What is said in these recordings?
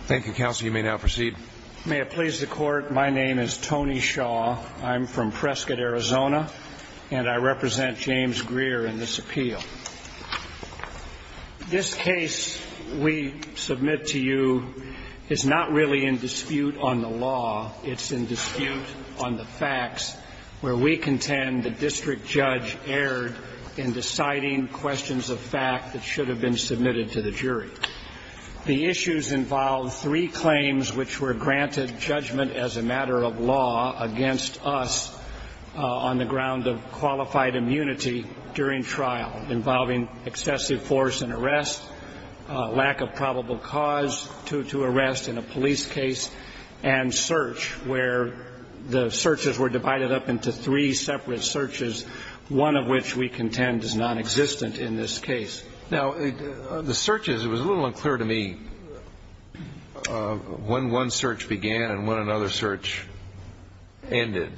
Thank you, Counsel. You may now proceed. May it please the Court, my name is Tony Shaw. I'm from Prescott, Arizona, and I represent James Greer in this appeal. This case we submit to you is not really in dispute on the law. It's in dispute on the facts, where we contend the district judge erred in deciding questions of fact that should have been submitted to the jury. The issues involve three claims which were granted judgment as a matter of law against us on the ground of qualified immunity during trial, involving excessive force and arrest, lack of probable cause to arrest in a police case, and search, where the searches were divided up into three separate searches, one of which we contend is nonexistent in this case. Now, the searches, it was a little unclear to me when one search began and when another search ended.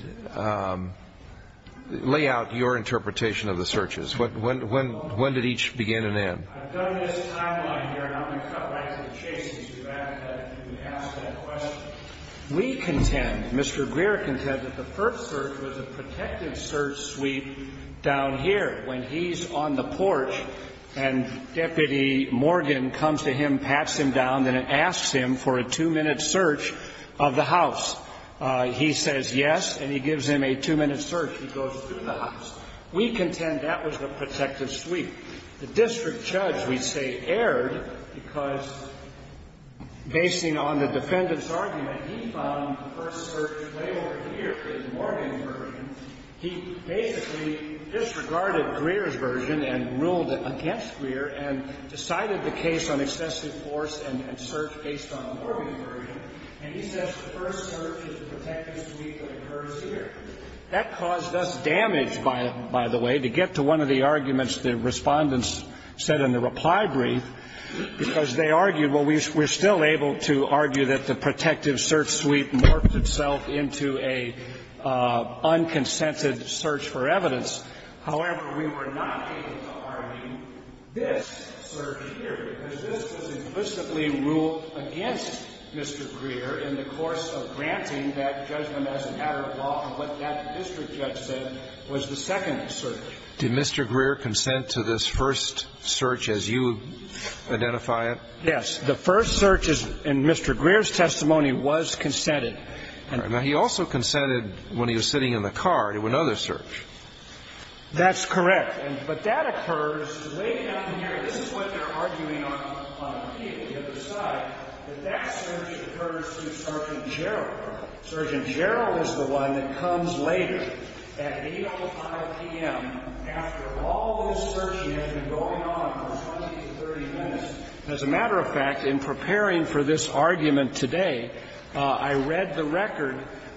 Lay out your interpretation of the searches. When did each begin and end? I've done this timeline here, and I'm going to cut right to the chase as you ask that question. We contend, Mr. Greer contends, that the first search was a protective search sweep down here when he's on the porch, and Deputy Morgan comes to him, pats him down, and asks him for a two-minute search of the house. He says yes, and he gives him a two-minute search. He goes through the house. We contend that was a protective sweep. The district judge, we say, erred because, basing on the defendant's argument, he found the first search way over here is Morgan's version. He basically disregarded Greer's version and ruled against Greer and decided the case on excessive force and search based on Morgan's version. And he says the first search is the protective sweep that occurs here. That caused us damage, by the way, to get to one of the arguments the Respondents said in the reply brief, because they argued, well, we're still able to argue that the protective search sweep morphed itself into a unconsented search for evidence. However, we were not able to argue this search here, because this was implicitly a search. So the first search was a search in which the district judge ruled against Mr. Greer in the course of granting that judgment as an added law and what that district judge said was the second search. Did Mr. Greer consent to this first search as you identify it? Yes. The first search in Mr. Greer's testimony was consented. All right. Now, he also consented when he was sitting in the car to another search. That's correct. But that occurs late afternoon. This is what they're arguing on the other side, that that search occurs through Sergeant Gerald. Sergeant Gerald is the one that comes later at 8.05 p.m. After all this searching has been going on for 20 to 30 minutes, as a matter of fact, in preparing for this argument today, I read the record.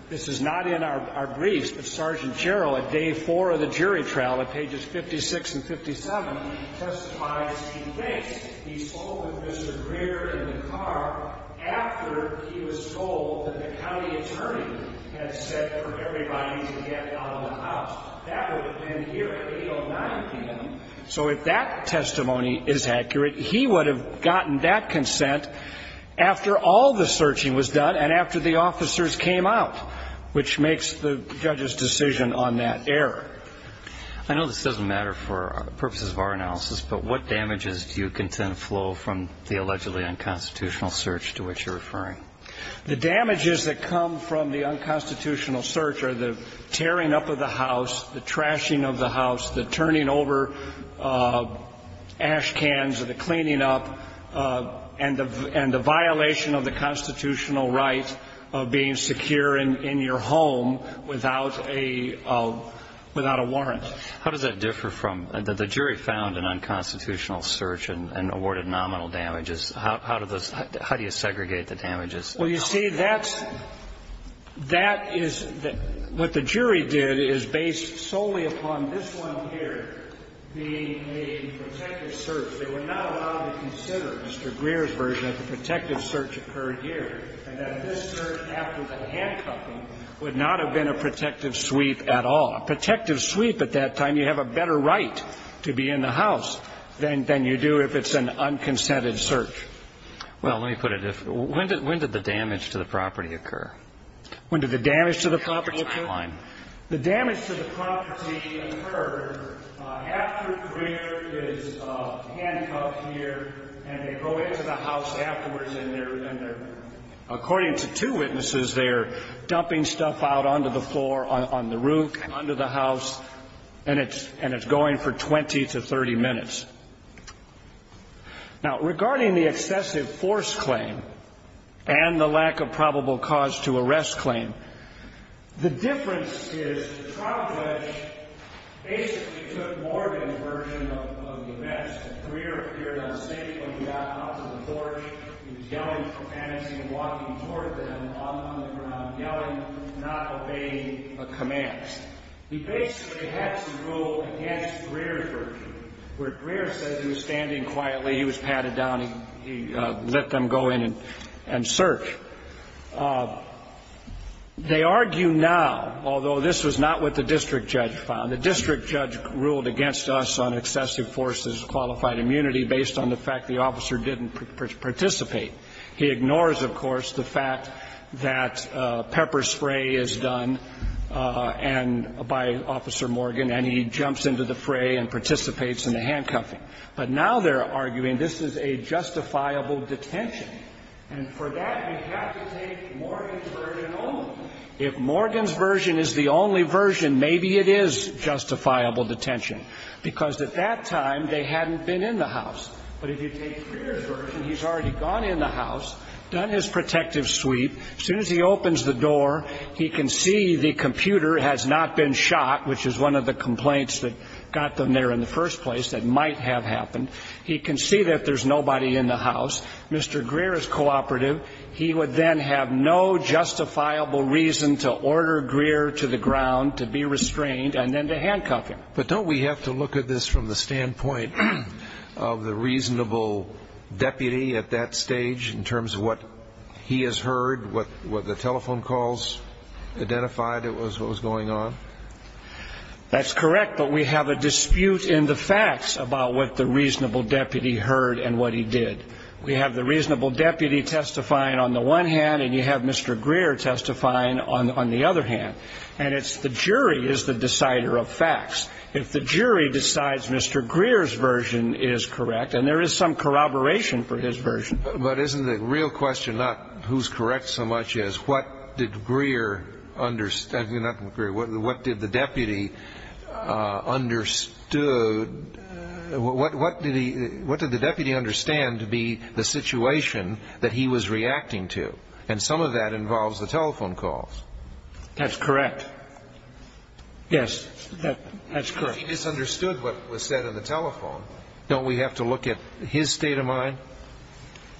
This is not in our briefs, but Sergeant Gerald at day four of the jury trial at pages 56 and 57 testifies he thinks he spoke with Mr. Greer in the car after he was told that the county attorney had said for everybody to get out of the house. That would have been here at 8.09 p.m. So if that testimony is accurate, he would have gotten that consent after all the searching was done and after the officers came out, which makes the judge's decision on that error. I know this doesn't matter for purposes of our analysis, but what damages do you contend flow from the allegedly unconstitutional search to which you're referring? The damages that come from the unconstitutional search are the tearing up of the house, the trashing of the house, the turning over ash cans or the cleaning up, and the violation of the constitutional right of being secure in your home without a warrant. How does that differ from the jury found an unconstitutional search and awarded nominal damages? How do you segregate the damages? Well, you see, that's what the jury did is based solely upon this one here being a protective search. They were not allowed to consider, Mr. Greer's version, that the protective search occurred here and that this search after the handcuffing would not have been a protective sweep at all. A protective sweep at that time, you have a better right to be in the house than you do if it's an unconsented search. Well, let me put it this way. When did the damage to the property occur? When did the damage to the property occur? The damage to the property occurred after Greer is handcuffed here and they go into the house afterwards and they're, according to two witnesses, they're dumping stuff out onto the floor, on the roof, under the house, and it's going for 20 to 30 minutes. Now, regarding the excessive force claim and the lack of probable cause to arrest claim, the difference is the trial judge basically took Morgan's version of the events. Greer appeared unsafe when he got onto the porch. He was yelling profanity and walking toward them on the ground, yelling, not obeying a command. He basically had to rule against Greer's version, where Greer said he was standing quietly, he was patted down, he let them go in and search. They argue now, although this was not what the district judge found, the district judge ruled against us on excessive force as qualified immunity based on the fact the officer didn't participate. He ignores, of course, the fact that pepper spray is done and by Officer Morgan and he jumps into the fray and participates in the handcuffing. But now they're arguing this is a justifiable detention. And for that, you have to take Morgan's version only. If Morgan's version is the only version, maybe it is justifiable detention, because at that time they hadn't been in the house. But if you take Greer's version, he's already gone in the house, done his protective sweep. As soon as he opens the door, he can see the computer has not been shot, which is one of the complaints that got them there in the first place that might have happened. He can see that there's nobody in the house. Mr. Greer is cooperative. He would then have no justifiable reason to order Greer to the ground to be restrained and then to handcuff him. But don't we have to look at this from the standpoint of the reasonable deputy at that stage in terms of what he has heard, what the telephone calls identified as what was going on? That's correct, but we have a dispute in the facts about what the reasonable deputy heard and what he did. We have the reasonable deputy testifying on the one hand and you have Mr. Greer testifying on the other hand. And it's the jury is the decider of facts. If the jury decides Mr. Greer's version is correct, and there is some corroboration for his version. But isn't the real question not who's correct so much as what did Greer understand? Not Greer. What did the deputy understood? What did the deputy understand to be the situation that he was reacting to? And some of that involves the telephone calls. That's correct. Yes, that's correct. He misunderstood what was said on the telephone. Don't we have to look at his state of mind?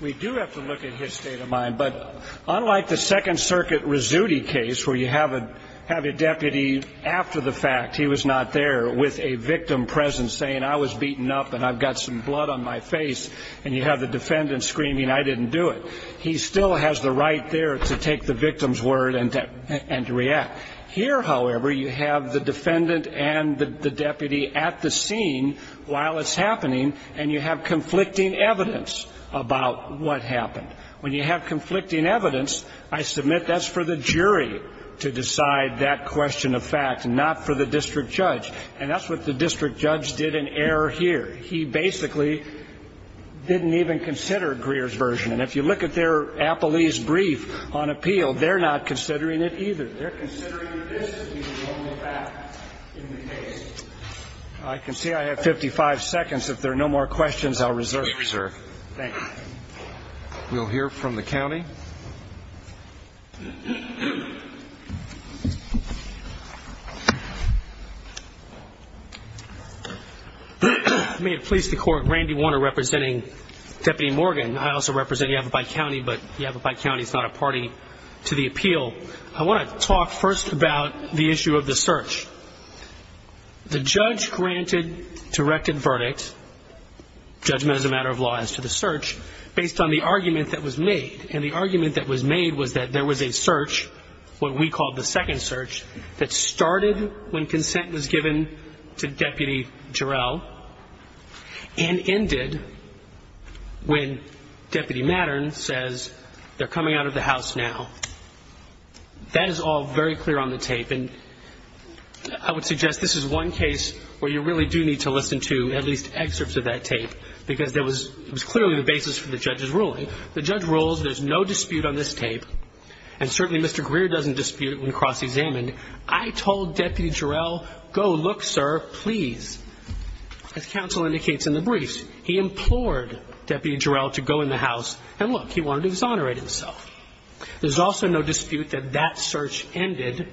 We do have to look at his state of mind. But unlike the Second Circuit Rizzuti case where you have a deputy after the fact he was not there with a victim present saying I was beaten up and I've got some blood on my face and you have the defendant screaming I didn't do it. He still has the right there to take the victim's word and to react. Here, however, you have the defendant and the deputy at the scene while it's happening and you have conflicting evidence about what happened. When you have conflicting evidence, I submit that's for the jury to decide that question of fact, not for the district judge. And that's what the district judge did in error here. He basically didn't even consider Greer's version. And if you look at their appellee's brief on appeal, they're not considering it either. They're considering this to be the only fact in the case. I can see I have 55 seconds. If there are no more questions, I'll reserve. Please reserve. Thank you. We'll hear from the county. May it please the Court, Randy Warner representing Deputy Morgan. I also represent Yavapai County, but Yavapai County is not a party to the appeal. I want to talk first about the issue of the search. The judge granted directed verdict, judgment as a matter of law as to the search, based on the argument that was made. And the argument that was made was that there was a search, what we called the second search, that started when consent was given to Deputy Jarrell and ended when Deputy Mattern says they're coming out of the house now. That is all very clear on the tape. And I would suggest this is one case where you really do need to listen to at least excerpts of that tape because it was clearly the basis for the judge's ruling. The judge rules there's no dispute on this tape, and certainly Mr. Greer doesn't dispute it when cross-examined. I told Deputy Jarrell, go look, sir, please. As counsel indicates in the briefs, he implored Deputy Jarrell to go in the house, and look, he wanted to exonerate himself. There's also no dispute that that search ended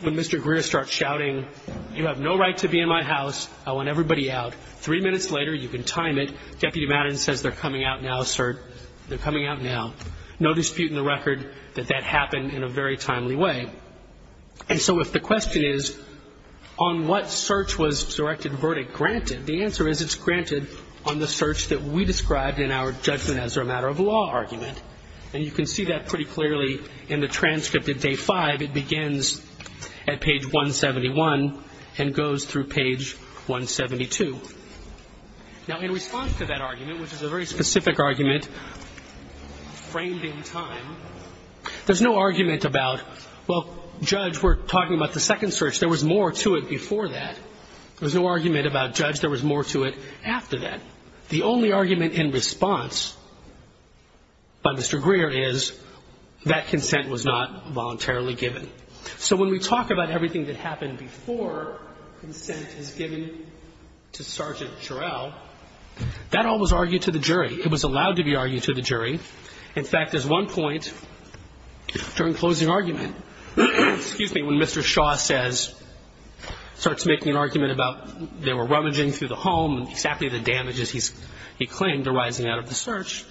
when Mr. Greer starts shouting, you have no right to be in my house, I want everybody out. Three minutes later, you can time it, Deputy Mattern says they're coming out now, sir, they're coming out now. No dispute in the record that that happened in a very timely way. And so if the question is on what search was directed verdict granted, the answer is it's granted on the search that we described in our judgment as a matter of law argument. And you can see that pretty clearly in the transcript at day five. It begins at page 171 and goes through page 172. Now, in response to that argument, which is a very specific argument framed in time, there's no argument about, well, Judge, we're talking about the second search. There was more to it before that. There's no argument about, Judge, there was more to it after that. The only argument in response by Mr. Greer is that consent was not voluntarily given. So when we talk about everything that happened before consent is given to Sergeant Jarrell, that all was argued to the jury. It was allowed to be argued to the jury. In fact, there's one point during closing argument, excuse me, when Mr. Shaw starts making an argument about they were rummaging through the home and exactly the damages he claimed arising out of the search,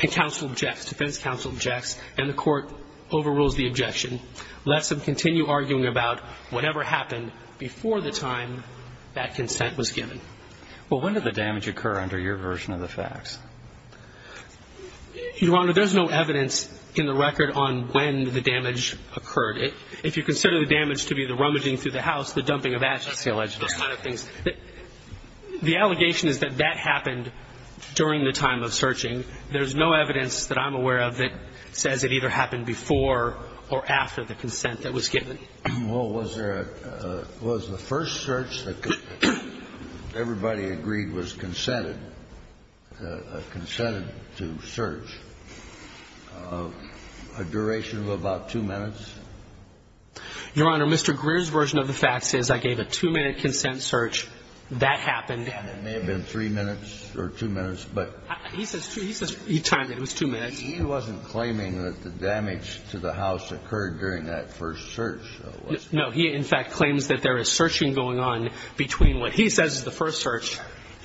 and counsel objects, defense counsel objects, and the court overrules the objection. Let's continue arguing about whatever happened before the time that consent was given. Well, when did the damage occur under your version of the facts? Your Honor, there's no evidence in the record on when the damage occurred. If you consider the damage to be the rummaging through the house, the dumping of ashes, those kind of things, the allegation is that that happened during the time of searching. There's no evidence that I'm aware of that says it either happened before or after the consent that was given. Well, was there a – was the first search that everybody agreed was consented – consented to search a duration of about two minutes? Your Honor, Mr. Greer's version of the facts is I gave a two-minute consent search. That happened. And it may have been three minutes or two minutes, but – He says – he timed it. It was two minutes. He wasn't claiming that the damage to the house occurred during that first search. No. He, in fact, claims that there is searching going on between what he says is the first search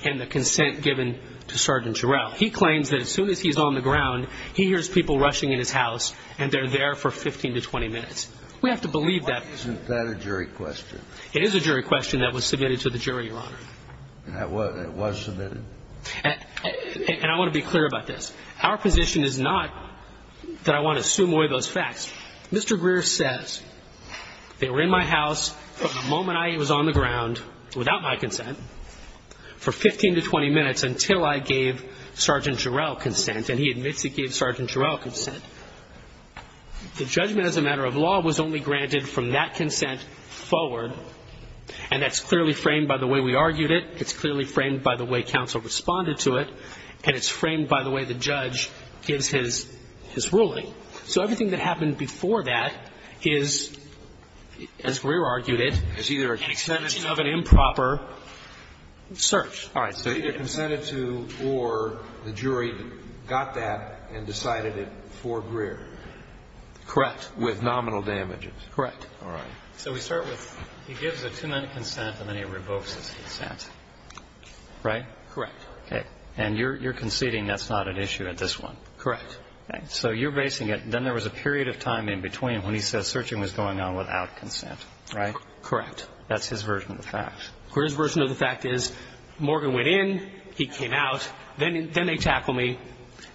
and the consent given to Sergeant Jarrell. He claims that as soon as he's on the ground, he hears people rushing in his house and they're there for 15 to 20 minutes. We have to believe that. Why isn't that a jury question? It is a jury question that was submitted to the jury, Your Honor. It was submitted? And I want to be clear about this. Our position is not that I want to assume away those facts. Mr. Greer says they were in my house from the moment I was on the ground without my consent for 15 to 20 minutes until I gave Sergeant Jarrell consent, and he admits he gave Sergeant Jarrell consent. The judgment as a matter of law was only granted from that consent forward, and that's clearly framed by the way we argued it. It's clearly framed by the way counsel responded to it, and it's framed by the way the judge gives his ruling. So everything that happened before that is, as Greer argued it, an extension of an improper search. All right. So either consented to or the jury got that and decided it for Greer. Correct. With nominal damages. Correct. All right. So we start with he gives a two-minute consent and then he revokes his consent. Right? Correct. Okay. And you're conceding that's not an issue at this one? Correct. So you're basing it, then there was a period of time in between when he says searching was going on without consent. Right? Correct. That's his version of the fact. Greer's version of the fact is Morgan went in, he came out, then they tackle me,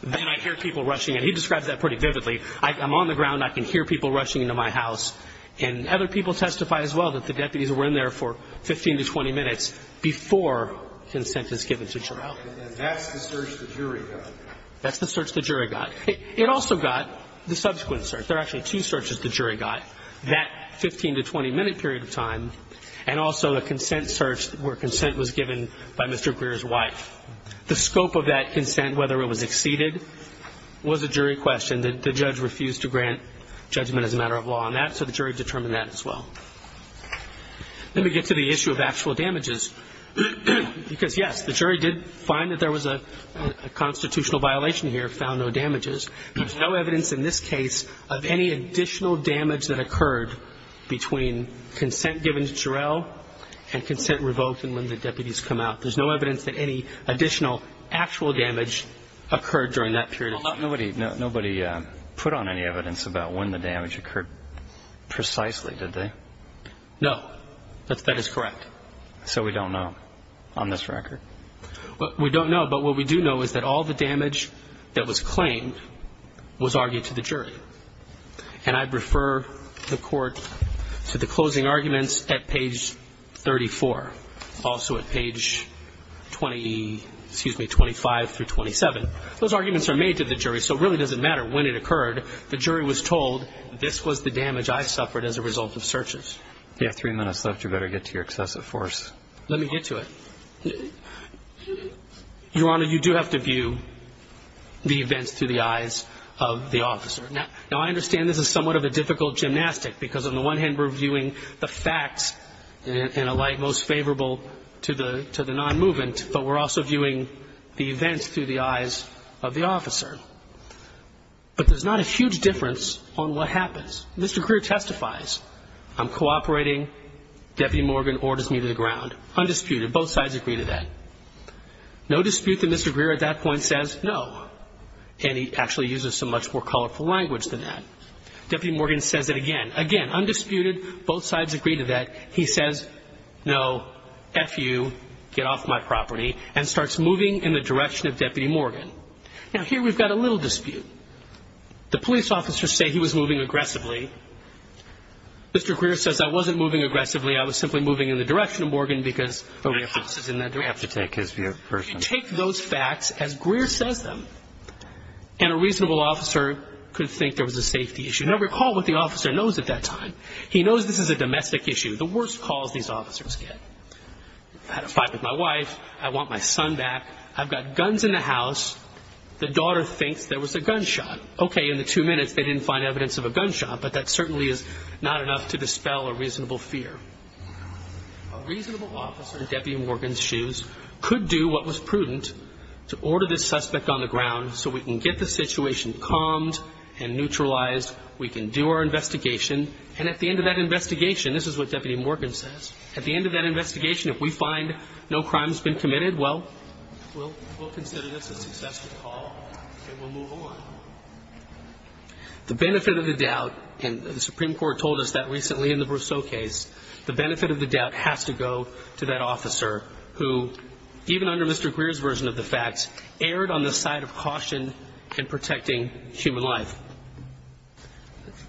then I hear people rushing in. He describes that pretty vividly. I'm on the ground, I can hear people rushing into my house, and other people testify as well that the deputies were in there for 15 to 20 minutes before consent is given to jury. Well, then that's the search the jury got. That's the search the jury got. It also got the subsequent search. There are actually two searches the jury got that 15 to 20-minute period of time, and also a consent search where consent was given by Mr. Greer's wife. The scope of that consent, whether it was exceeded, was a jury question. The judge refused to grant judgment as a matter of law on that, so the jury determined that as well. Let me get to the issue of actual damages, because, yes, the jury did find that there was a constitutional violation here, found no damages. There's no evidence in this case of any additional damage that occurred between consent given to Jarrell and consent revoked and when the deputies come out. There's no evidence that any additional actual damage occurred during that period of time. Nobody put on any evidence about when the damage occurred precisely, did they? No. That is correct. So we don't know on this record? We don't know, but what we do know is that all the damage that was claimed was argued to the jury, and I'd refer the court to the closing arguments at page 34, also at page 25 through 27. Those arguments are made to the jury, so it really doesn't matter when it occurred. The jury was told this was the damage I suffered as a result of searches. You have three minutes left. You better get to your excessive force. Let me get to it. Your Honor, you do have to view the events through the eyes of the officer. Now, I understand this is somewhat of a difficult gymnastic, because on the one hand, we're viewing the facts in a light most favorable to the non-movement, but we're also viewing the events through the eyes of the officer. But there's not a huge difference on what happens. Mr. Greer testifies. I'm cooperating. Deputy Morgan orders me to the ground. Undisputed. Both sides agree to that. No dispute that Mr. Greer at that point says no, and he actually uses a much more colorful language than that. Deputy Morgan says it again. Again, undisputed. Both sides agree to that. He says, no, F you, get off my property, and starts moving in the direction of Deputy Morgan. Now, here we've got a little dispute. The police officers say he was moving aggressively. Mr. Greer says, I wasn't moving aggressively. I was simply moving in the direction of Morgan because of references in that direction. You have to take his view first. You take those facts as Greer says them, and a reasonable officer could think there was a safety issue. Now, recall what the officer knows at that time. He knows this is a domestic issue. The worst calls these officers get. I had a fight with my wife. I want my son back. I've got guns in the house. The daughter thinks there was a gunshot. Okay, in the two minutes they didn't find evidence of a gunshot, but that certainly is not enough to dispel a reasonable fear. A reasonable officer in Deputy Morgan's shoes could do what was prudent to order this suspect on the ground so we can get the situation calmed and neutralized. We can do our investigation, and at the end of that investigation, this is what Deputy Morgan says, at the end of that investigation, if we find no crime has been committed, well, we'll consider this a successful call and we'll move on. The benefit of the doubt, and the Supreme Court told us that recently in the Brousseau case, the benefit of the doubt has to go to that officer who, even under Mr. Greer's version of the facts, erred on the side of caution in protecting human life.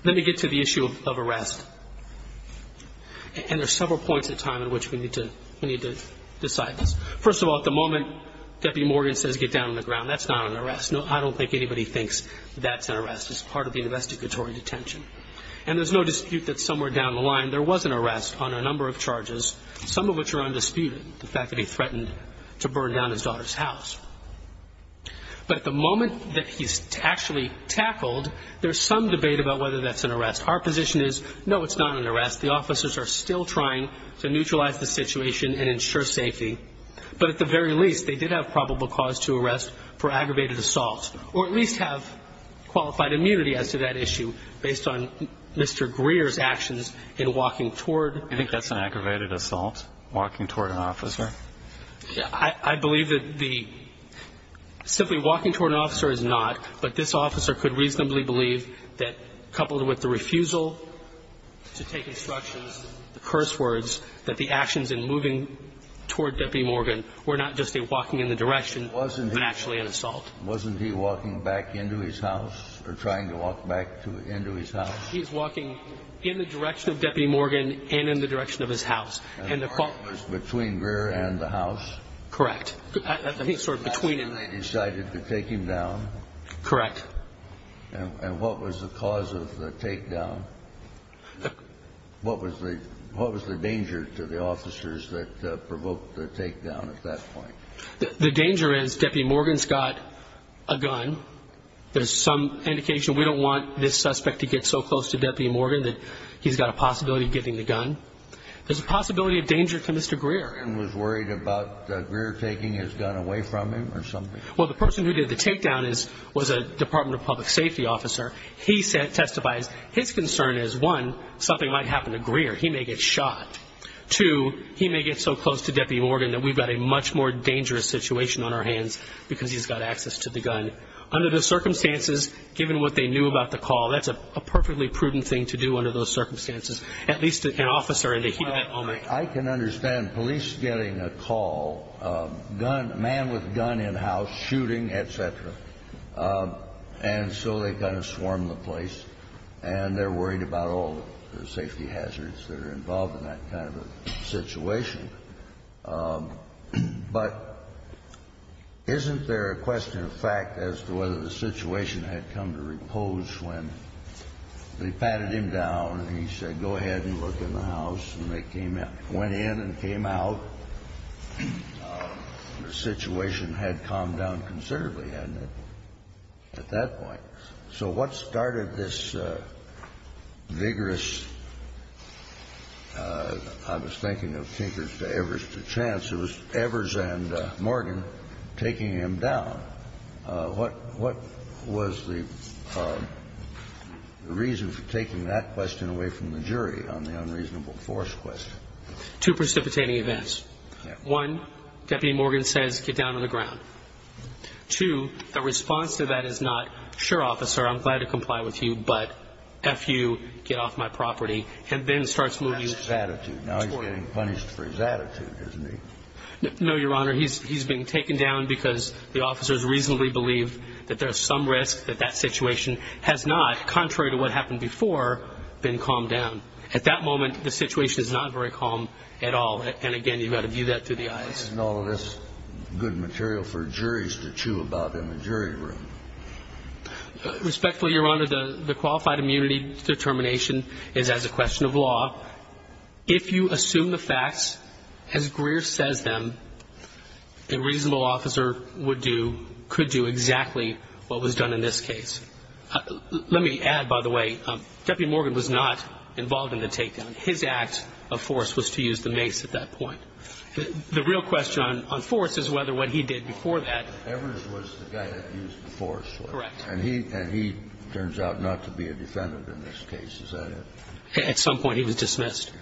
Let me get to the issue of arrest, and there are several points in time in which we need to decide this. First of all, at the moment, Deputy Morgan says get down on the ground. That's not an arrest. I don't think anybody thinks that's an arrest. It's part of the investigatory detention, and there's no dispute that somewhere down the line, there was an arrest on a number of charges, some of which are undisputed, the fact that he threatened to burn down his daughter's house. But at the moment that he's actually tackled, there's some debate about whether that's an arrest. Our position is, no, it's not an arrest. The officers are still trying to neutralize the situation and ensure safety, but at the very least, they did have probable cause to arrest for aggravated assault or at least have qualified immunity as to that issue based on Mr. Greer's actions in walking toward. Do you think that's an aggravated assault, walking toward an officer? I believe that the simply walking toward an officer is not, but this officer could reasonably believe that coupled with the refusal to take instructions, the curse words, that the actions in moving toward Deputy Morgan were not just a walking in the direction, but actually an assault. Wasn't he walking back into his house or trying to walk back into his house? He's walking in the direction of Deputy Morgan and in the direction of his house. And the fault was between Greer and the house? Correct. I think sort of between them. And they decided to take him down? Correct. And what was the cause of the takedown? What was the danger to the officers that provoked the takedown at that point? The danger is Deputy Morgan's got a gun. There's some indication we don't want this suspect to get so close to Deputy Morgan that he's got a possibility of getting the gun. There's a possibility of danger to Mr. Greer. And was worried about Greer taking his gun away from him or something? Well, the person who did the takedown was a Department of Public Safety officer. He testifies his concern is, one, something might happen to Greer. He may get shot. Two, he may get so close to Deputy Morgan that we've got a much more dangerous situation on our hands because he's got access to the gun. Under the circumstances, given what they knew about the call, that's a perfectly prudent thing to do under those circumstances, at least an officer in the heat of that moment. I can understand police getting a call, a man with a gun in house shooting, et cetera. And so they kind of swarm the place, and they're worried about all the safety hazards that are involved in that kind of a situation. But isn't there a question of fact as to whether the situation had come to repose when they patted him down and he said, go ahead and look in the house, and they came in, went in and came out? The situation had calmed down considerably, hadn't it, at that point? So what started this vigorous, I was thinking of Tinkers to Evers to Chance. It was Evers and Morgan taking him down. What was the reason for taking that question away from the jury on the unreasonable force question? Two precipitating events. One, Deputy Morgan says, get down on the ground. Two, the response to that is not, sure, officer, I'm glad to comply with you, but F you, get off my property, and then starts moving toward him. That's his attitude. Now he's getting punished for his attitude, isn't he? No, Your Honor, he's being taken down because the officers reasonably believe that there's some risk that that situation has not, contrary to what happened before, been calmed down. At that moment, the situation is not very calm at all. And again, you've got to view that through the eyes. And all of this good material for juries to chew about in the jury room. Respectfully, Your Honor, the qualified immunity determination is as a question of law. If you assume the facts as Greer says them, a reasonable officer would do, could do exactly what was done in this case. Let me add, by the way, Deputy Morgan was not involved in the takedown. His act of force was to use the mace at that point. The real question on force is whether what he did before that. Evers was the guy that used the force. Correct. And he turns out not to be a defendant in this case. Is that it? At some point he was dismissed.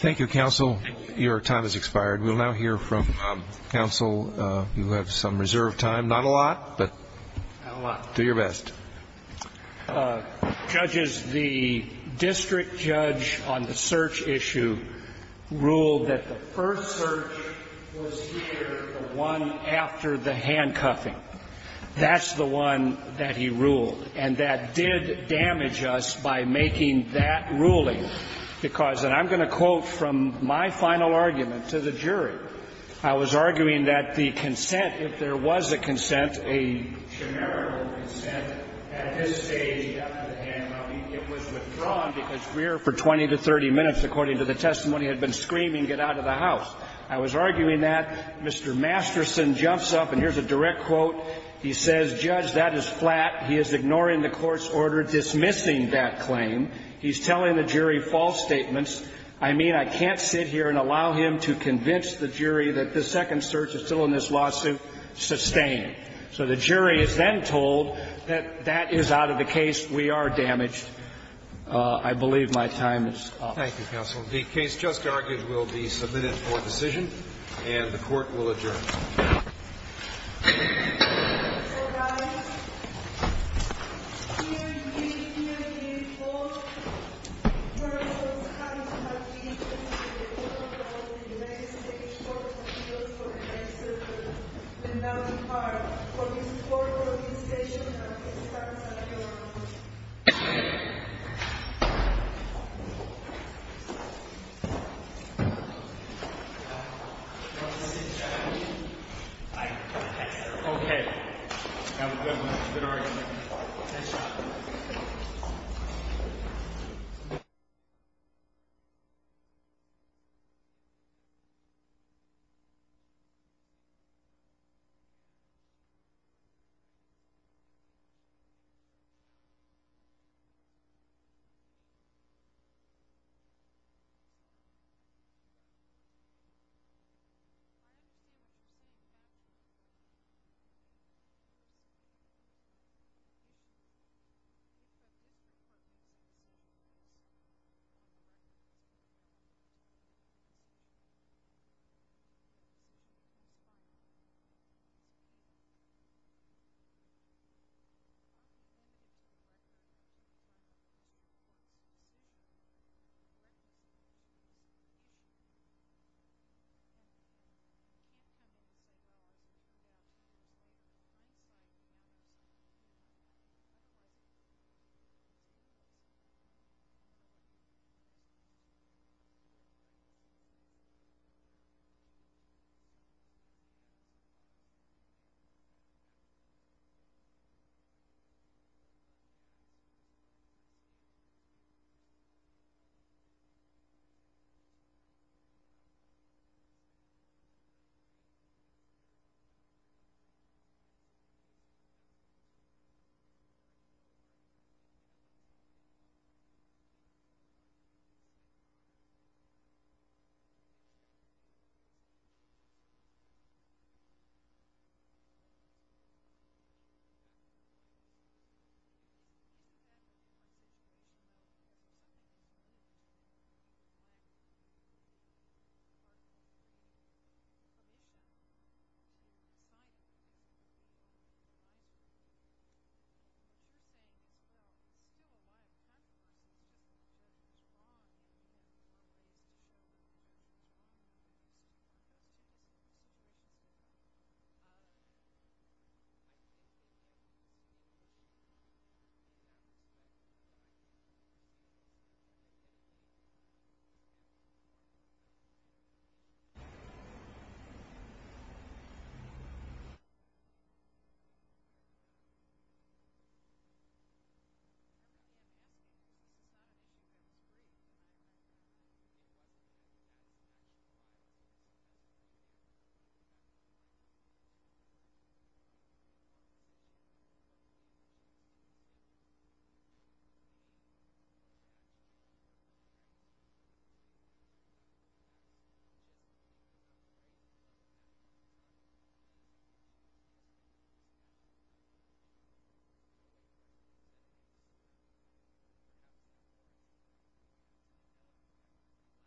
Thank you, counsel. Your time has expired. We'll now hear from counsel. You have some reserved time. Not a lot, but do your best. Judges, the district judge on the search issue ruled that the first search was here, the one after the handcuffing. That's the one that he ruled. And that did damage us by making that ruling. Because, and I'm going to quote from my final argument to the jury. I was arguing that the consent, if there was a consent, a generative consent, at his stage after the handcuffing, it was withdrawn because Greer, for 20 to 30 minutes, according to the testimony, had been screaming, get out of the house. I was arguing that. Mr. Masterson jumps up, and here's a direct quote. He says, Judge, that is flat. He is ignoring the court's order dismissing that claim. He's telling the jury false statements. I mean, I can't sit here and allow him to convince the jury that the second search is still in this lawsuit sustained. So the jury is then told that that is out of the case. We are damaged. I believe my time is up. Thank you, counsel. The case just argued will be submitted for decision, and the Court will adjourn. So, guys, dear, dear, dear people, first of all, it's a pleasure to have you here today. We're all proud of the United States Court of Appeals for the next circuit, and now the part for this court organization that is starting right now. Thank you. Thank you. Thank you. Thank you. Thank you. Thank you. Thank you. Thank you.